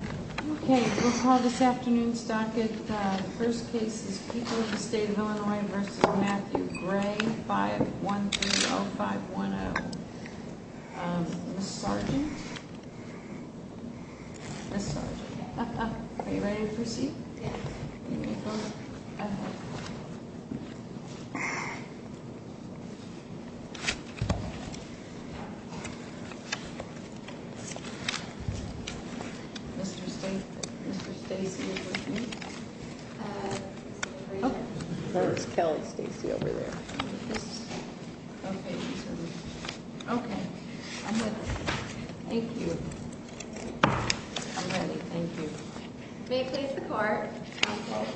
Okay, we'll call this afternoon's docket. The first case is People of the State of Illinois v. Matthew Gray, 5-130-510. Ms. Sargent? Ms. Sargent. Are you ready to proceed? Yes. Can you give me a photo? Go ahead. Mr. Stacey? Mr. Stacey is with me? Is he over here? No, it's Kelly Stacey over there. Okay. Okay, I'm ready. Thank you. I'm ready. Thank you. May it please the court. Counsel.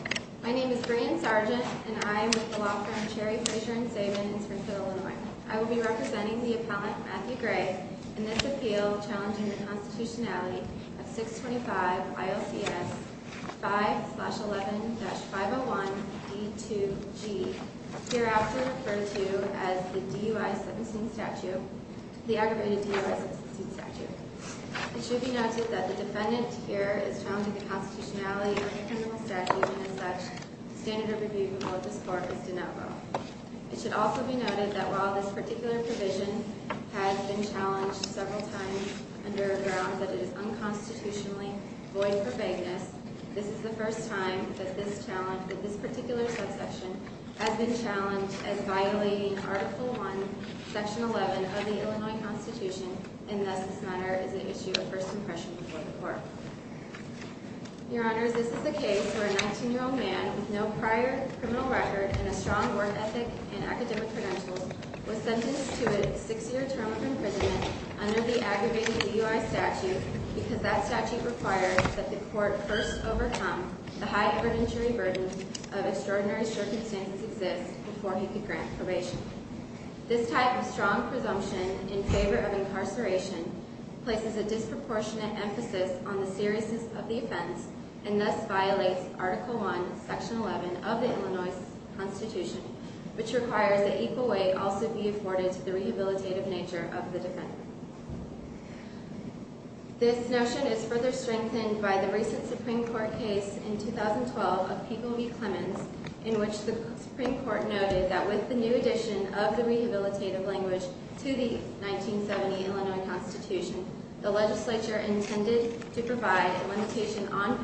My name is Brian Sargent, and I am with the law firm Cherry, Frazier, and Sabin in Springfield, Illinois. I will be representing the appellant, Matthew Gray, in this appeal challenging the constitutionality of 625 ILCS 5-11-501 D2G, here aptly referred to as the DUI-16 statute, the aggravated DUI-16 statute. It should be noted that the defendant here is challenging the constitutionality of the criminal statute, and as such, the standard of review before this court is de novo. It should also be noted that while this particular provision has been challenged several times under a ground that is unconstitutionally void for vagueness, this is the first time that this challenge, that this particular subsection, has been challenged as violating Article I, Section 11 of the Illinois Constitution, and thus this matter is an issue of first impression before the court. Your Honors, this is the case where a 19-year-old man with no prior criminal record and a strong work ethic and academic credentials was sentenced to a six-year term of imprisonment under the aggravated DUI statute because that statute requires that the court first overcome the high evidentiary burden of extraordinary circumstances exist before he could grant probation. This type of strong presumption in favor of incarceration places a disproportionate emphasis on the seriousness of the offense and thus violates Article I, Section 11 of the Illinois Constitution, which requires that equal weight also be afforded to the rehabilitative nature of the defendant. This notion is further strengthened by the recent Supreme Court case in 2012 of People v. Clemens in which the Supreme Court noted that with the new addition of the rehabilitative language to the 1970 Illinois Constitution, the legislature intended to provide a limitation on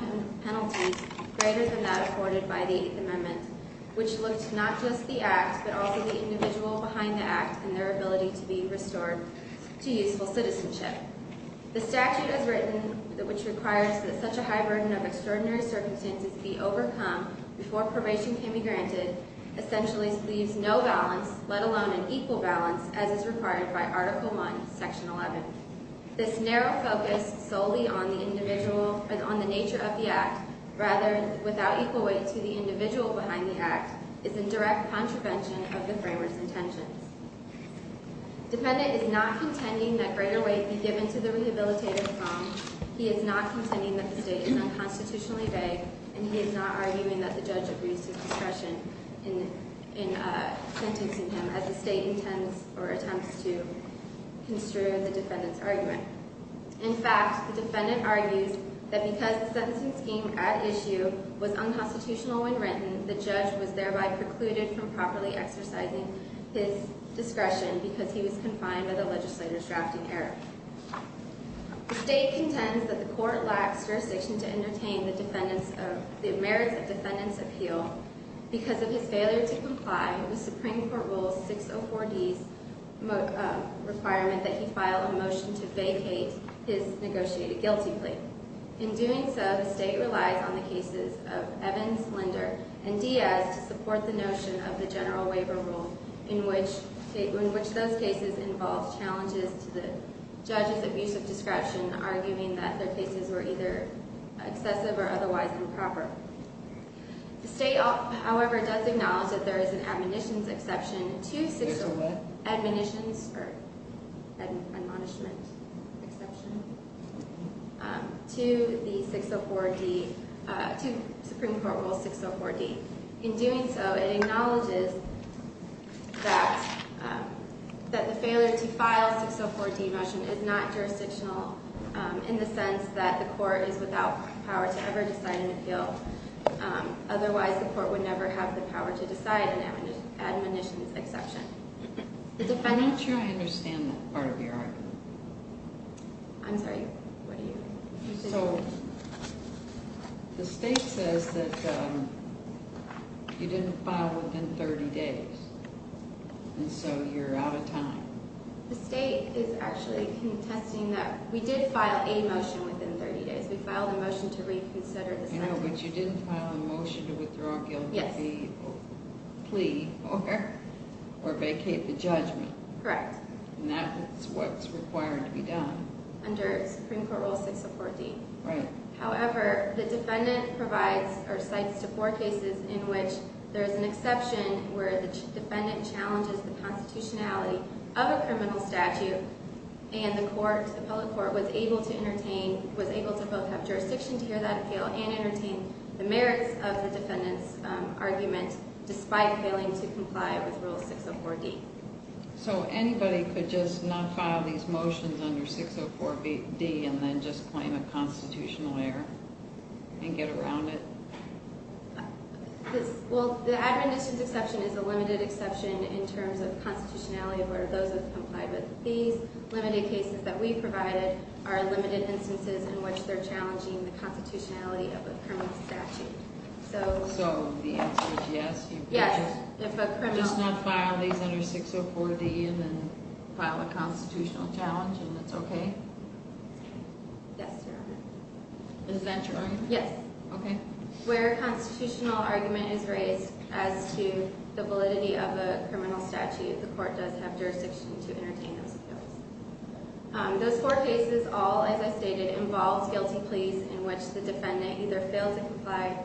penalties greater than that afforded by the Eighth Amendment, which looked to not just the act but also the individual behind the act and their ability to be restored to useful citizenship. The statute as written, which requires that such a high burden of extraordinary circumstances be overcome before probation can be granted, essentially leaves no balance, let alone an equal balance, as is required by Article I, Section 11. This narrow focus solely on the individual and on the nature of the act, rather without equal weight to the individual behind the act, is in direct contravention of the framers' intentions. Defendant is not contending that greater weight be given to the rehabilitative form, he is not contending that the state is unconstitutionally vague, and he is not arguing that the judge agrees to discretion in sentencing him as the state intends or attempts to construe the defendant's argument. In fact, the defendant argues that because the sentencing scheme at issue was unconstitutional when written, the judge was thereby precluded from properly exercising his discretion because he was confined by the legislator's drafting error. The state contends that the court lacks jurisdiction to entertain the merits of defendant's appeal because of his failure to comply with the Supreme Court Rule 604D's requirement that he file a motion to vacate his negotiated guilty plea. In doing so, the state relies on the cases of Evans, Linder, and Diaz to support the notion of the General Waiver Rule, in which those cases involved challenges to the judge's abuse of discretion, arguing that their cases were either excessive or otherwise improper. The state, however, does acknowledge that there is an admonitions exception to 604D. In doing so, it acknowledges that the failure to file 604D motion is not jurisdictional in the sense that the court is without power to ever decide an appeal. Otherwise, the court would never have the power to decide an admonitions exception. I'm not sure I understand that part of your argument. I'm sorry, what do you mean? So, the state says that you didn't file within 30 days, and so you're out of time. The state is actually contesting that we did file a motion within 30 days. We filed a motion to reconsider the statute. But you didn't file a motion to withdraw guilty plea or vacate the judgment. Correct. And that's what's required to be done. Under Supreme Court Rule 604D. Right. However, the defendant provides or cites to four cases in which there is an exception where the defendant challenges the constitutionality of a criminal statute, and the court, the public court, was able to entertain, was able to both have jurisdiction to hear that appeal and entertain the merits of the defendant's argument, despite failing to comply with Rule 604D. So, anybody could just not file these motions under 604D and then just claim a constitutional error and get around it? Well, the administration's exception is a limited exception in terms of constitutionality of where those that complied with the pleas. Limited cases that we provided are limited instances in which they're challenging the constitutionality of a criminal statute. So, the answer is yes? Yes. Just not file these under 604D and then file a constitutional challenge and it's okay? Yes, Your Honor. Is that true? Yes. Okay. Where a constitutional argument is raised as to the validity of a criminal statute, the court does have jurisdiction to entertain those appeals. Those four cases all, as I stated, involved guilty pleas in which the defendant either failed to comply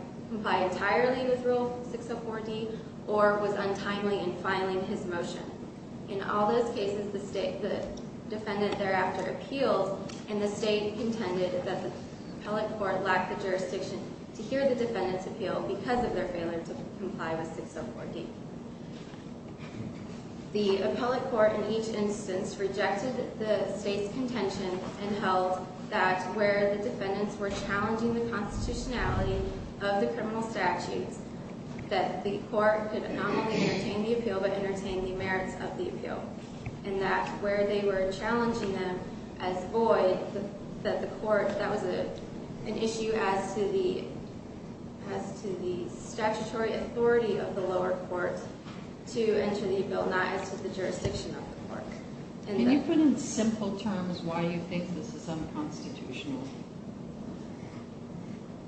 entirely with Rule 604D or was untimely in filing his motion. In all those cases, the defendant thereafter appealed and the state contended that the appellate court lacked the jurisdiction to hear the defendant's appeal because of their failure to comply with 604D. The appellate court in each instance rejected the state's contention and held that where the defendants were challenging the constitutionality of the criminal statutes, that the court could not only entertain the appeal but entertain the merits of the appeal. And that where they were challenging them as void, that the court, that was an issue as to the statutory authority of the lower court to enter the appeal, not as to the jurisdiction of the court. Can you put in simple terms why you think this is unconstitutional?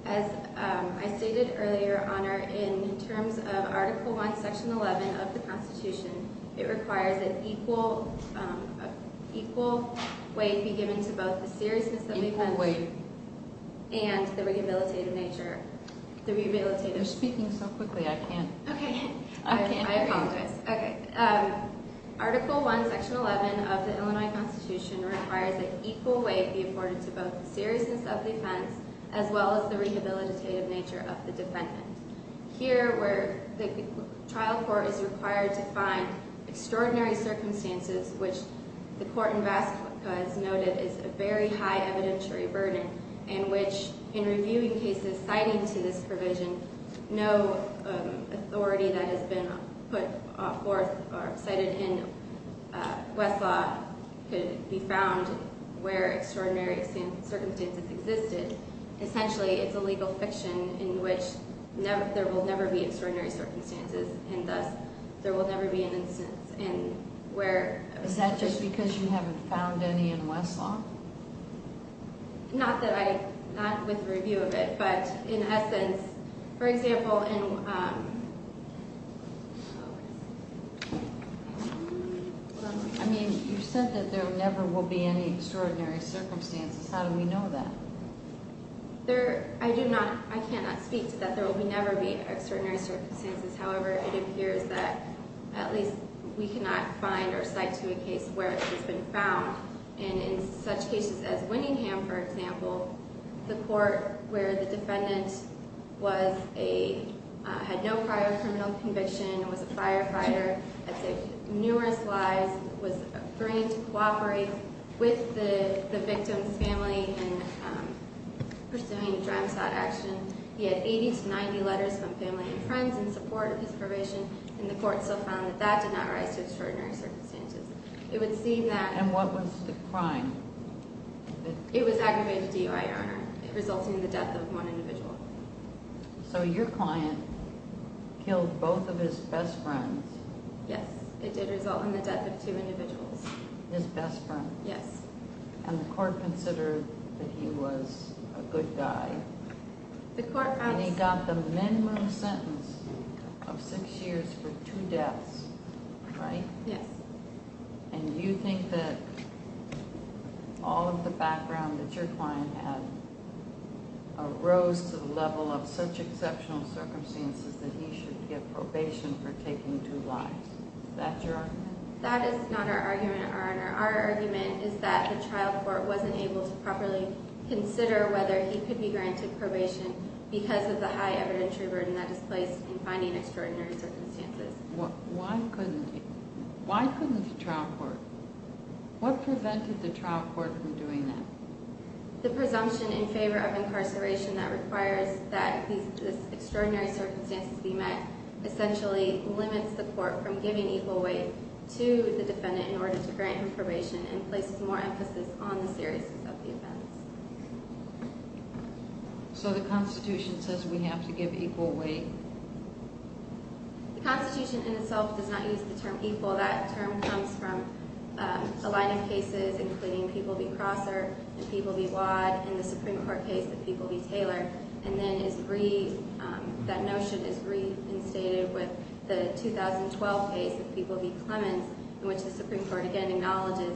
As I stated earlier, Your Honor, in terms of Article I, Section 11 of the Constitution, it requires that equal weight be given to both the seriousness of the offense Equal weight. and the rehabilitative nature, the rehabilitative You're speaking so quickly, I can't. Okay. I can't. I apologize. Okay. Article I, Section 11 of the Illinois Constitution requires that equal weight be afforded to both the seriousness of the offense as well as the rehabilitative nature of the defendant. Here where the trial court is required to find extraordinary circumstances, which the court in Vasco has noted is a very high evidentiary burden in which in reviewing cases citing to this provision, no authority that has been put forth or cited in Westlaw could be found where extraordinary circumstances existed. Essentially, it's a legal fiction in which there will never be extraordinary circumstances and thus there will never be an instance in where Is that just because you haven't found any in Westlaw? Not that I, not with review of it, but in essence, for example, in I mean, you said that there never will be any extraordinary circumstances. How do we know that? I do not, I cannot speak to that there will never be extraordinary circumstances. However, it appears that at least we cannot find or cite to a case where it has been found. And in such cases as Winningham, for example, the court where the defendant was a, had no prior criminal conviction, was a firefighter, had saved numerous lives, was afraid to cooperate with the victim's family in pursuing a dramasod action. He had 80 to 90 letters from family and friends in support of his probation and the court still found that that did not rise to extraordinary circumstances. It would seem that And what was the crime? It was aggravated DUI, Your Honor, resulting in the death of one individual. So your client killed both of his best friends. Yes, it did result in the death of two individuals. His best friend. Yes. And the court considered that he was a good guy. The court found And he got the minimum sentence of six years for two deaths, right? Yes. And you think that all of the background that your client had arose to the level of such exceptional circumstances that he should get probation for taking two lives. Is that your argument? That is not our argument, Your Honor. Our argument is that the trial court wasn't able to properly consider whether he could be granted probation because of the high evidentiary burden that is placed in finding extraordinary circumstances. Why couldn't he? Why couldn't the trial court? What prevented the trial court from doing that? The presumption in favor of incarceration that requires that these extraordinary circumstances be met essentially limits the court from giving equal weight to the defendant in order to grant him probation and places more emphasis on the seriousness of the offense. So the Constitution says we have to give equal weight? The Constitution in itself does not use the term equal. That term comes from a line of cases including People v. Crosser and People v. Wad in the Supreme Court case of People v. Taylor and then that notion is reinstated with the 2012 case of People v. Clemens in which the Supreme Court again acknowledges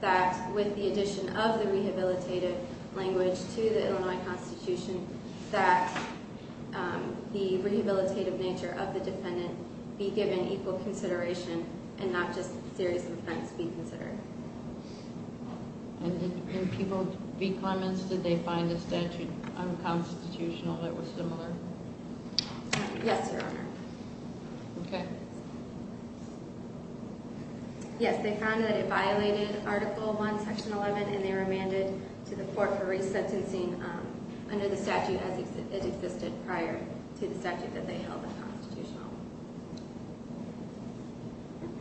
that with the addition of the rehabilitative language to the Illinois Constitution that the rehabilitative nature of the defendant be given equal consideration and not just serious offense be considered. And in People v. Clemens, did they find a statute unconstitutional that was similar? Yes, Your Honor. Okay. Yes, they found that it violated Article I, Section 11 and they were amended to the court for resentencing under the statute as it existed prior to the statute that they held unconstitutional.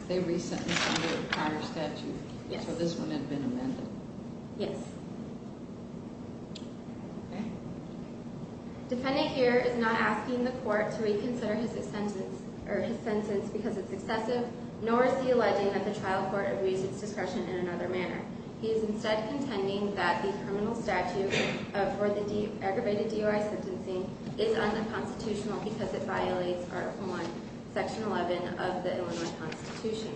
They resentenced under a prior statute? Yes. So this one had been amended? Yes. Okay. Defendant here is not asking the court to reconsider his sentence because it's excessive nor is he alleging that the trial court abused its discretion in another manner. He is instead contending that the criminal statute for the aggravated DUI sentencing is unconstitutional because it violates Article I, Section 11 of the Illinois Constitution.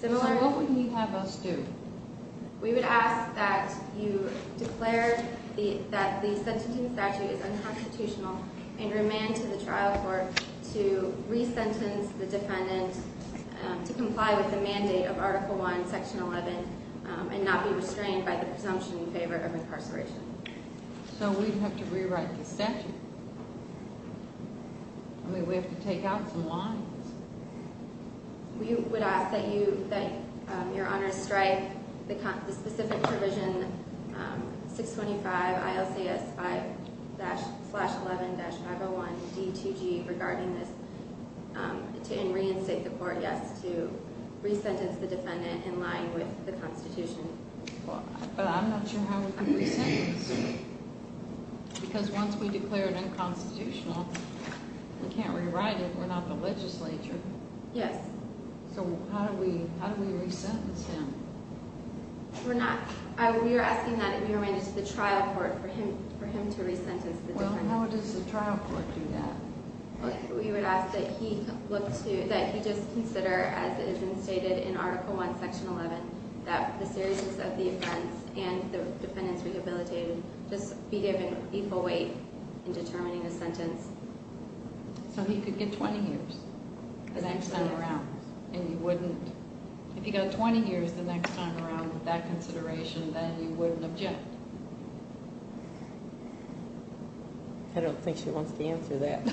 So what would he have us do? We would ask that you declare that the sentencing statute is unconstitutional and remand to the trial court to resentence the defendant to comply with the mandate of Article I, Section 11 and not be restrained by the presumption in favor of incarceration. So we'd have to rewrite the statute? I mean, we have to take out some lines? We would ask that Your Honor strike the specific provision 625 ILCS 5-11-501 D2G regarding this and reinstate the court, yes, to resentence the defendant in line with the Constitution. But I'm not sure how we could resentence him. Because once we declare it unconstitutional, we can't rewrite it. We're not the legislature. Yes. So how do we resentence him? We're asking that it be remanded to the trial court for him to resentence the defendant. Well, how does the trial court do that? We would ask that he just consider, as it has been stated in Article I, Section 11, that the seriousness of the offense and the defendant's rehabilitation just be given equal weight in determining the sentence. So he could get 20 years the next time around, and you wouldn't? If he got 20 years the next time around with that consideration, then you wouldn't object? I don't think she wants to answer that.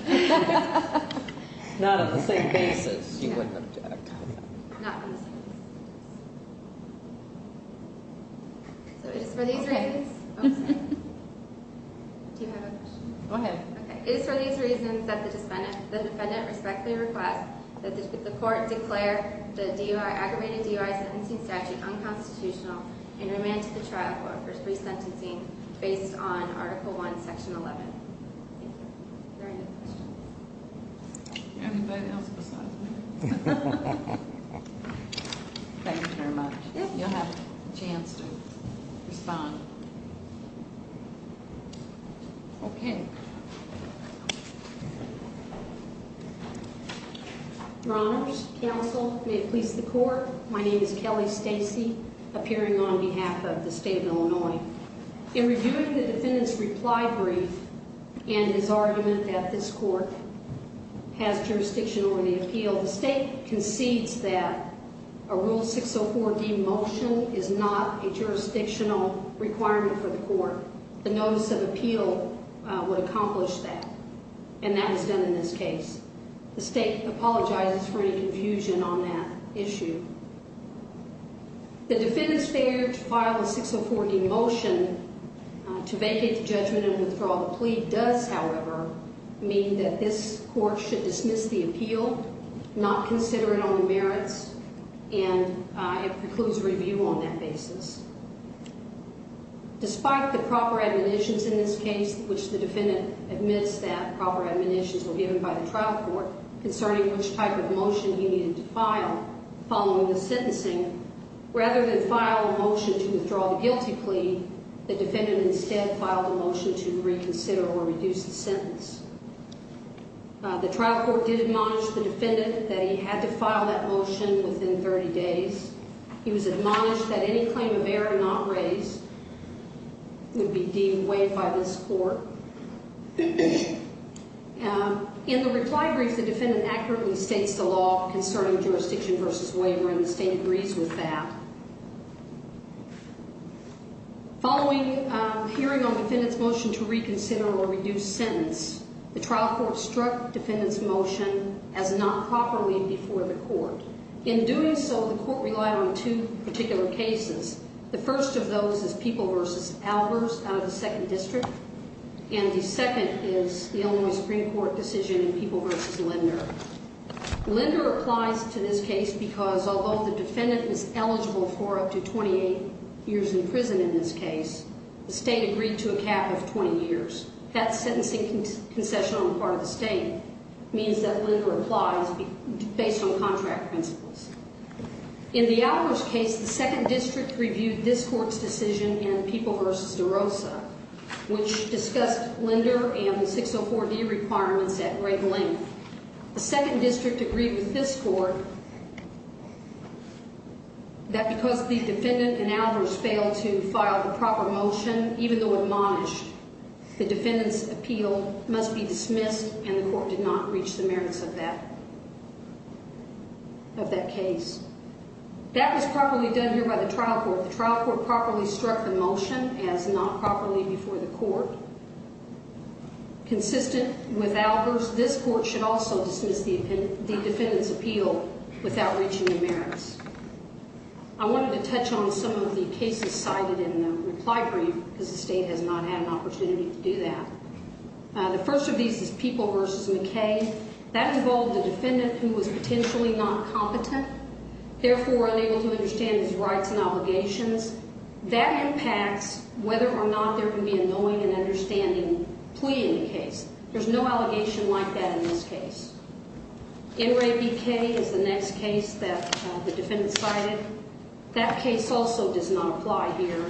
Not on the same basis, you wouldn't object. Not on the same basis. So it is for these reasons. Okay. Do you have a question? Go ahead. Okay. It is for these reasons that the defendant respectfully requests that the court declare the DUI, aggravated DUI, sentencing statute unconstitutional and remand to the trial court for resentencing based on Article I, Section 11. Thank you. Very good question. Anybody else besides me? Thank you very much. You'll have a chance to respond. Okay. Your Honors, Counsel, may it please the Court, my name is Kelly Stacey, appearing on behalf of the State of Illinois. In reviewing the defendant's reply brief and his argument that this court has jurisdiction over the appeal, the State concedes that a Rule 604D motion is not a jurisdictional requirement for the court. The notice of appeal would accomplish that, and that was done in this case. The State apologizes for any confusion on that issue. The defendant's failure to file a 604D motion to vacate the judgment and withdraw the plea does, however, mean that this court should dismiss the appeal, not consider it on the merits, and it precludes review on that basis. Despite the proper admonitions in this case, which the defendant admits that proper admonitions were given by the trial court concerning which type of motion he needed to file following the sentencing, rather than file a motion to withdraw the guilty plea, the defendant instead filed a motion to reconsider or reduce the sentence. The trial court did admonish the defendant that he had to file that motion within 30 days. He was admonished that any claim of error not raised would be deemed waived by this court. In the reply brief, the defendant accurately states the law concerning jurisdiction versus waiver, and the State agrees with that. Following hearing on the defendant's motion to reconsider or reduce sentence, the trial court struck the defendant's motion as not properly before the court. In doing so, the court relied on two particular cases. The first of those is People v. Albers out of the Second District. And the second is the Illinois Supreme Court decision in People v. Linder. Linder applies to this case because although the defendant was eligible for up to 28 years in prison in this case, the State agreed to a cap of 20 years. That sentencing concession on the part of the State means that Linder applies based on contract principles. In the Albers case, the Second District reviewed this court's decision in People v. DeRosa, which discussed Linder and the 604D requirements at great length. The Second District agreed with this court that because the defendant in Albers failed to file the proper motion, even though admonished, the defendant's appeal must be dismissed and the court did not reach the merits of that case. That was properly done here by the trial court. The trial court properly struck the motion as not properly before the court. Consistent with Albers, this court should also dismiss the defendant's appeal without reaching the merits. I wanted to touch on some of the cases cited in the reply brief because the State has not had an opportunity to do that. The first of these is People v. McKay. That involved a defendant who was potentially not competent, therefore unable to understand his rights and obligations. That impacts whether or not there can be a knowing and understanding plea in the case. There's no allegation like that in this case. N. Ray B. Kay is the next case that the defendant cited. That case also does not apply here.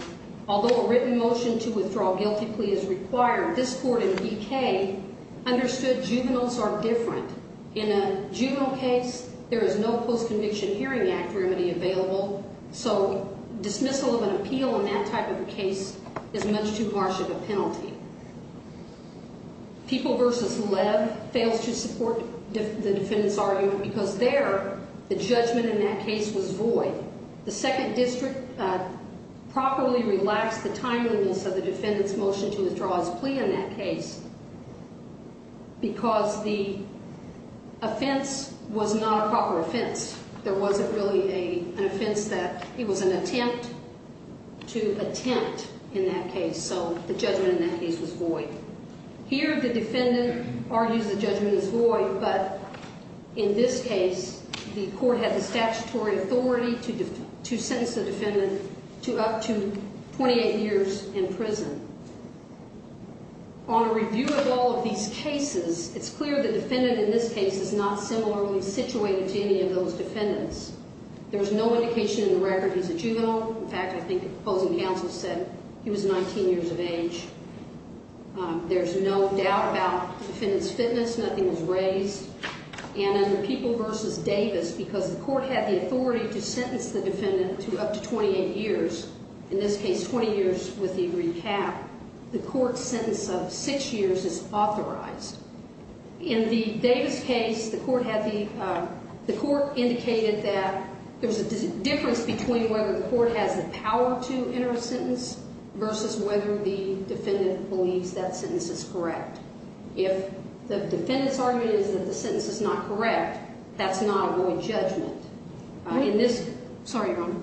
Although a written motion to withdraw a guilty plea is required, this court in B. Kay understood juveniles are different. In a juvenile case, there is no post-conviction hearing act remedy available, so dismissal of an appeal in that type of a case is much too harsh of a penalty. People v. Lev fails to support the defendant's argument because there, the judgment in that case was void. The second district properly relaxed the timeliness of the defendant's motion to withdraw his plea in that case because the offense was not a proper offense. There wasn't really an offense that it was an attempt to attempt in that case, so the judgment in that case was void. Here, the defendant argues the judgment is void, but in this case, the court had the statutory authority to sentence the defendant to up to 28 years in prison. On a review of all of these cases, it's clear the defendant in this case is not similarly situated to any of those defendants. There's no indication in the record he's a juvenile. In fact, I think the opposing counsel said he was 19 years of age. There's no doubt about the defendant's fitness. Nothing was raised. And under People v. Davis, because the court had the authority to sentence the defendant to up to 28 years, in this case 20 years with the agreed cap, the court's sentence of 6 years is authorized. In the Davis case, the court had the, the court indicated that there's a difference between whether the court has the power to enter a sentence versus whether the defendant believes that sentence is correct. If the defendant's argument is that the sentence is not correct, that's not a void judgment. In this, sorry, Your Honor.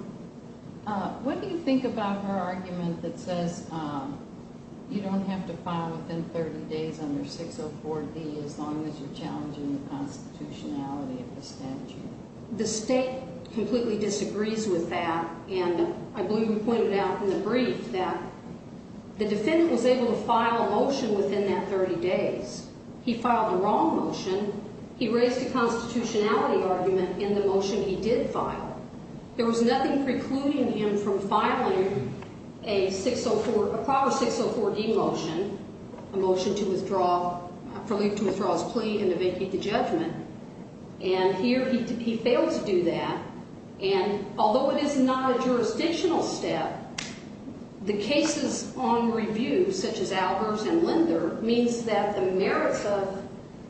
What do you think about her argument that says you don't have to file within 30 days under 604D as long as you're challenging the constitutionality of the statute? The state completely disagrees with that, and I believe we pointed out in the brief that the defendant was able to file a motion within that 30 days. He filed a wrong motion. He raised a constitutionality argument in the motion he did file. There was nothing precluding him from filing a 604, a prior 604D motion, a motion to withdraw, for leave to withdraw his plea and to vacate the judgment. And here he, he failed to do that. And although it is not a jurisdictional step, the cases on review, such as Albers and Linder, means that the merits of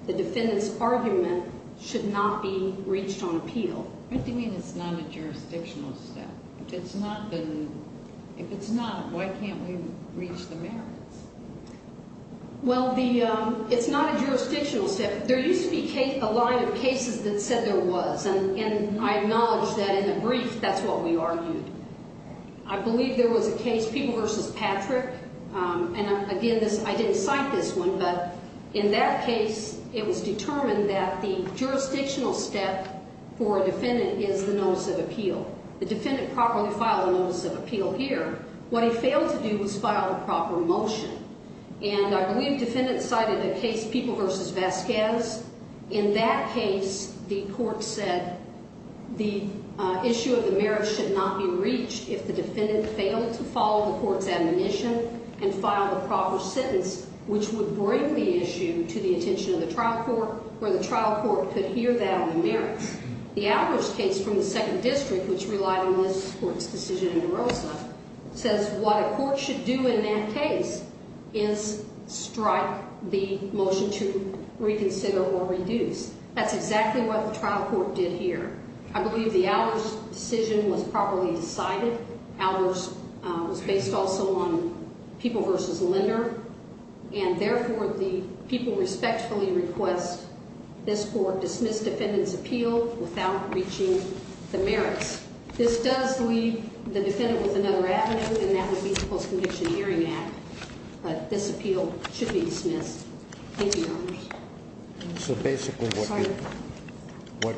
the defendant's argument should not be reached on appeal. What do you mean it's not a jurisdictional step? It's not been, if it's not, why can't we reach the merits? Well, the, it's not a jurisdictional step. There used to be a line of cases that said there was, and I acknowledge that in the brief, that's what we argued. I believe there was a case, People v. Patrick, and again, this, I didn't cite this one, but in that case, it was determined that the jurisdictional step for a defendant is the notice of appeal. The defendant properly filed a notice of appeal here. What he failed to do was file a proper motion. And I believe the defendant cited a case, People v. Vasquez. In that case, the court said the issue of the merits should not be reached if the defendant failed to follow the court's admonition and file the proper sentence, which would bring the issue to the attention of the trial court, where the trial court could hear that on the merits. The Alders case from the second district, which relied on this court's decision in DeRosa, says what a court should do in that case is strike the motion to reconsider or reduce. That's exactly what the trial court did here. I believe the Alders decision was properly decided. Alders was based also on People v. Linder. And therefore, the people respectfully request this court dismiss defendant's appeal without reaching the merits. This does leave the defendant with another avenue, and that would be the Post-Conviction Hearing Act. But this appeal should be dismissed. Thank you, Your Honors. So basically what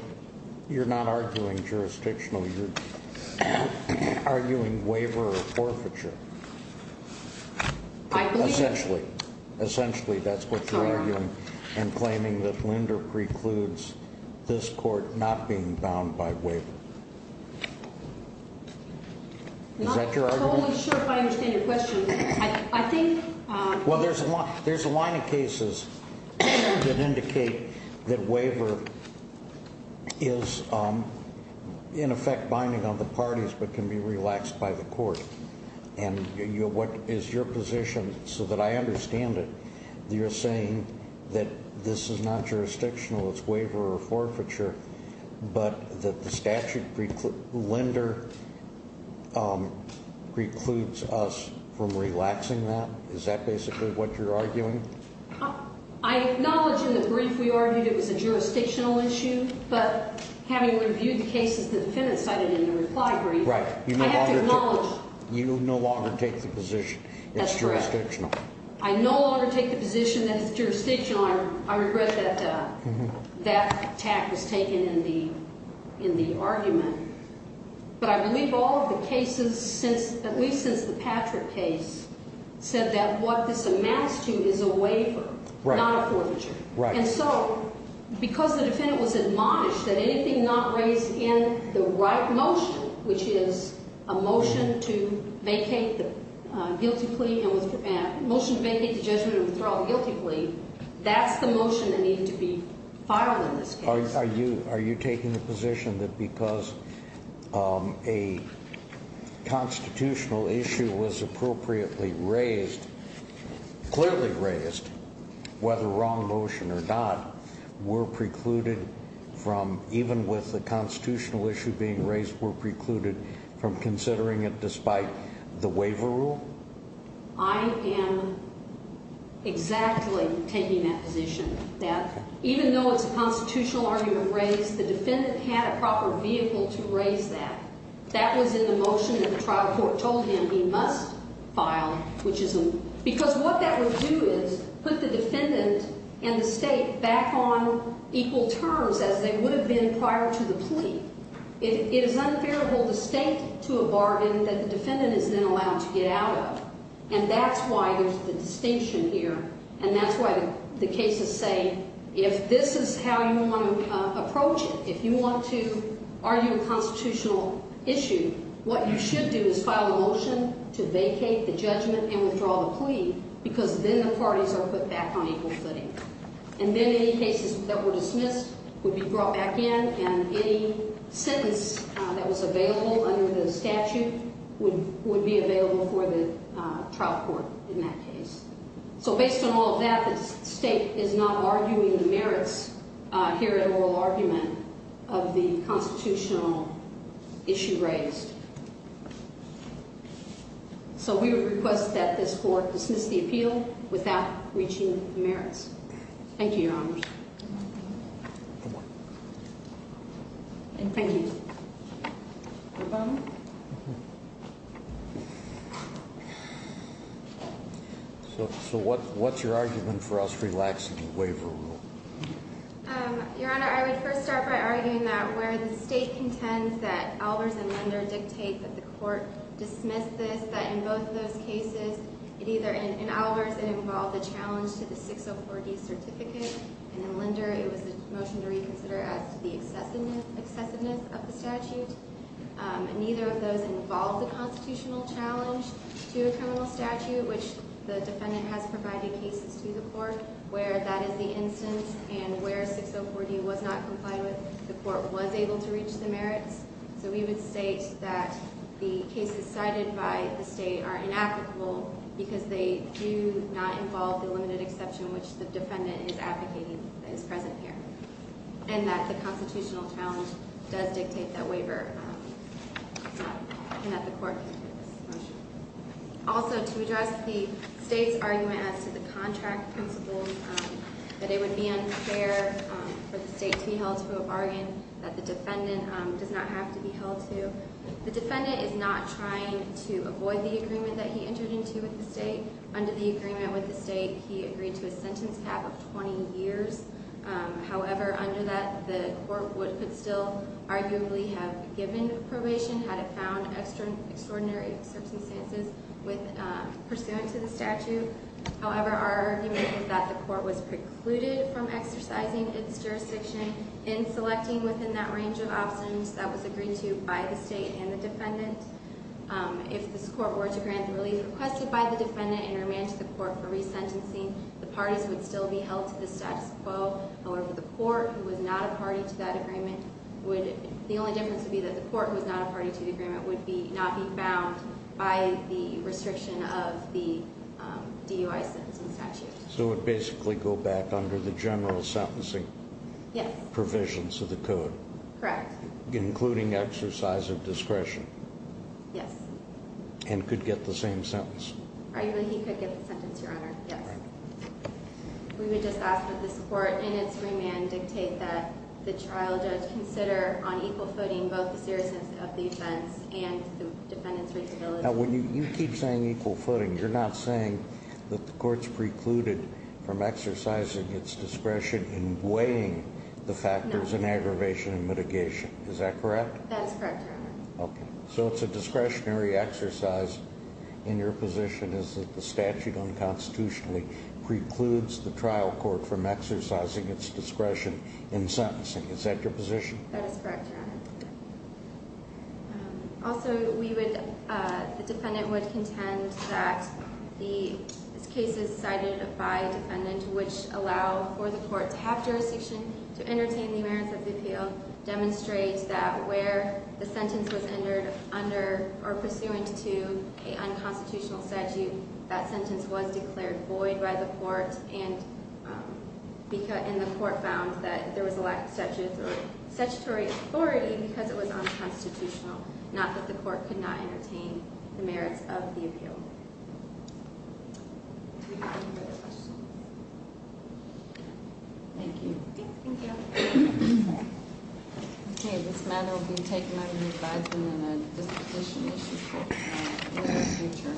you're not arguing jurisdictionally, you're arguing waiver or forfeiture. Essentially, that's what you're arguing and claiming that Linder precludes this court not being bound by waiver. Is that your argument? I'm not totally sure if I understand your question. Well, there's a line of cases that indicate that waiver is, in effect, binding on the parties but can be relaxed by the court. And what is your position so that I understand it? You're saying that this is not jurisdictional, it's waiver or forfeiture, but that the statute Linder precludes us from relaxing that? Is that basically what you're arguing? I acknowledge in the brief we argued it was a jurisdictional issue, but having reviewed the cases the defendant cited in the reply brief, I have to acknowledge. You no longer take the position it's jurisdictional. I no longer take the position that it's jurisdictional. I regret that that attack was taken in the argument. But I believe all of the cases, at least since the Patrick case, said that what this amounts to is a waiver, not a forfeiture. Right. And so because the defendant was admonished that anything not raised in the right motion, which is a motion to vacate the guilty plea and motion to vacate the judgment and withdraw the guilty plea, that's the motion that needed to be filed in this case. Are you taking the position that because a constitutional issue was appropriately raised, clearly raised, whether wrong motion or not, were precluded from, even with the constitutional issue being raised, were precluded from considering it despite the waiver rule? I am exactly taking that position, that even though it's a constitutional argument raised, the defendant had a proper vehicle to raise that. That was in the motion that the trial court told him he must file, because what that would do is put the defendant and the state back on equal terms as they would have been prior to the plea. It is unfair to hold the state to a bargain that the defendant is then allowed to get out of. And that's why there's the distinction here. And that's why the cases say, if this is how you want to approach it, if you want to argue a constitutional issue, what you should do is file a motion to vacate the judgment and withdraw the plea, because then the parties are put back on equal footing. And then any cases that were dismissed would be brought back in, and any sentence that was available under the statute would be available for the trial court in that case. So based on all of that, the state is not arguing the merits here in oral argument of the constitutional issue raised. So we would request that this court dismiss the appeal without reaching the merits. Thank you, Your Honors. And thank you. Your Honor? So what's your argument for us relaxing the waiver rule? Your Honor, I would first start by arguing that where the state contends that Alders and Linder dictate that the court dismiss this, that in both of those cases, either in Alders it involved a challenge to the 604D certificate, and in Linder it was a motion to reconsider as to the excessiveness of the statute. Neither of those involved a constitutional challenge to a criminal statute, which the defendant has provided cases to the court where that is the instance, and where 604D was not complied with, the court was able to reach the merits. So we would state that the cases cited by the state are inapplicable because they do not involve the limited exception which the defendant is advocating that is present here, and that the constitutional challenge does dictate that waiver, and that the court can approve this motion. Also, to address the state's argument as to the contract principles, that it would be unfair for the state to be held to a bargain that the defendant does not have to be held to, the defendant is not trying to avoid the agreement that he entered into with the state. Under the agreement with the state, he agreed to a sentence cap of 20 years. However, under that, the court would still arguably have given probation had it found extraordinary circumstances pursuant to the statute. However, our argument is that the court was precluded from exercising its jurisdiction in selecting within that range of options that was agreed to by the state and the defendant. If this court were to grant the relief requested by the defendant and remand to the court for resentencing, the parties would still be held to the status quo. However, the court who was not a party to that agreement, the only difference would be that the court who was not a party to the agreement would not be bound by the restriction of the DUI sentencing statute. So it would basically go back under the general sentencing provisions of the code? Correct. Including exercise of discretion? Yes. And could get the same sentence? Arguably, he could get the sentence, Your Honor. We would just ask that this court, in its remand, dictate that the trial judge consider on equal footing both the seriousness of the offense and the defendant's responsibility. Now, when you keep saying equal footing, you're not saying that the court's precluded from exercising its discretion in weighing the factors in aggravation and mitigation. Is that correct? That's correct, Your Honor. Okay. So it's a discretionary exercise in your position is that the statute unconstitutionally precludes the trial court from exercising its discretion in sentencing. Is that your position? That is correct, Your Honor. Also, the defendant would contend that the cases cited by defendant, which allow for the court to have jurisdiction to entertain the merits of the appeal, demonstrate that where the sentence was entered under or pursuant to an unconstitutional statute, that sentence was declared void by the court, and the court found that there was a lack of statutory authority because it was unconstitutional. Not that the court could not entertain the merits of the appeal. Thank you. Thank you. Okay, this matter will be taken under revising in a disposition issue court in the near future.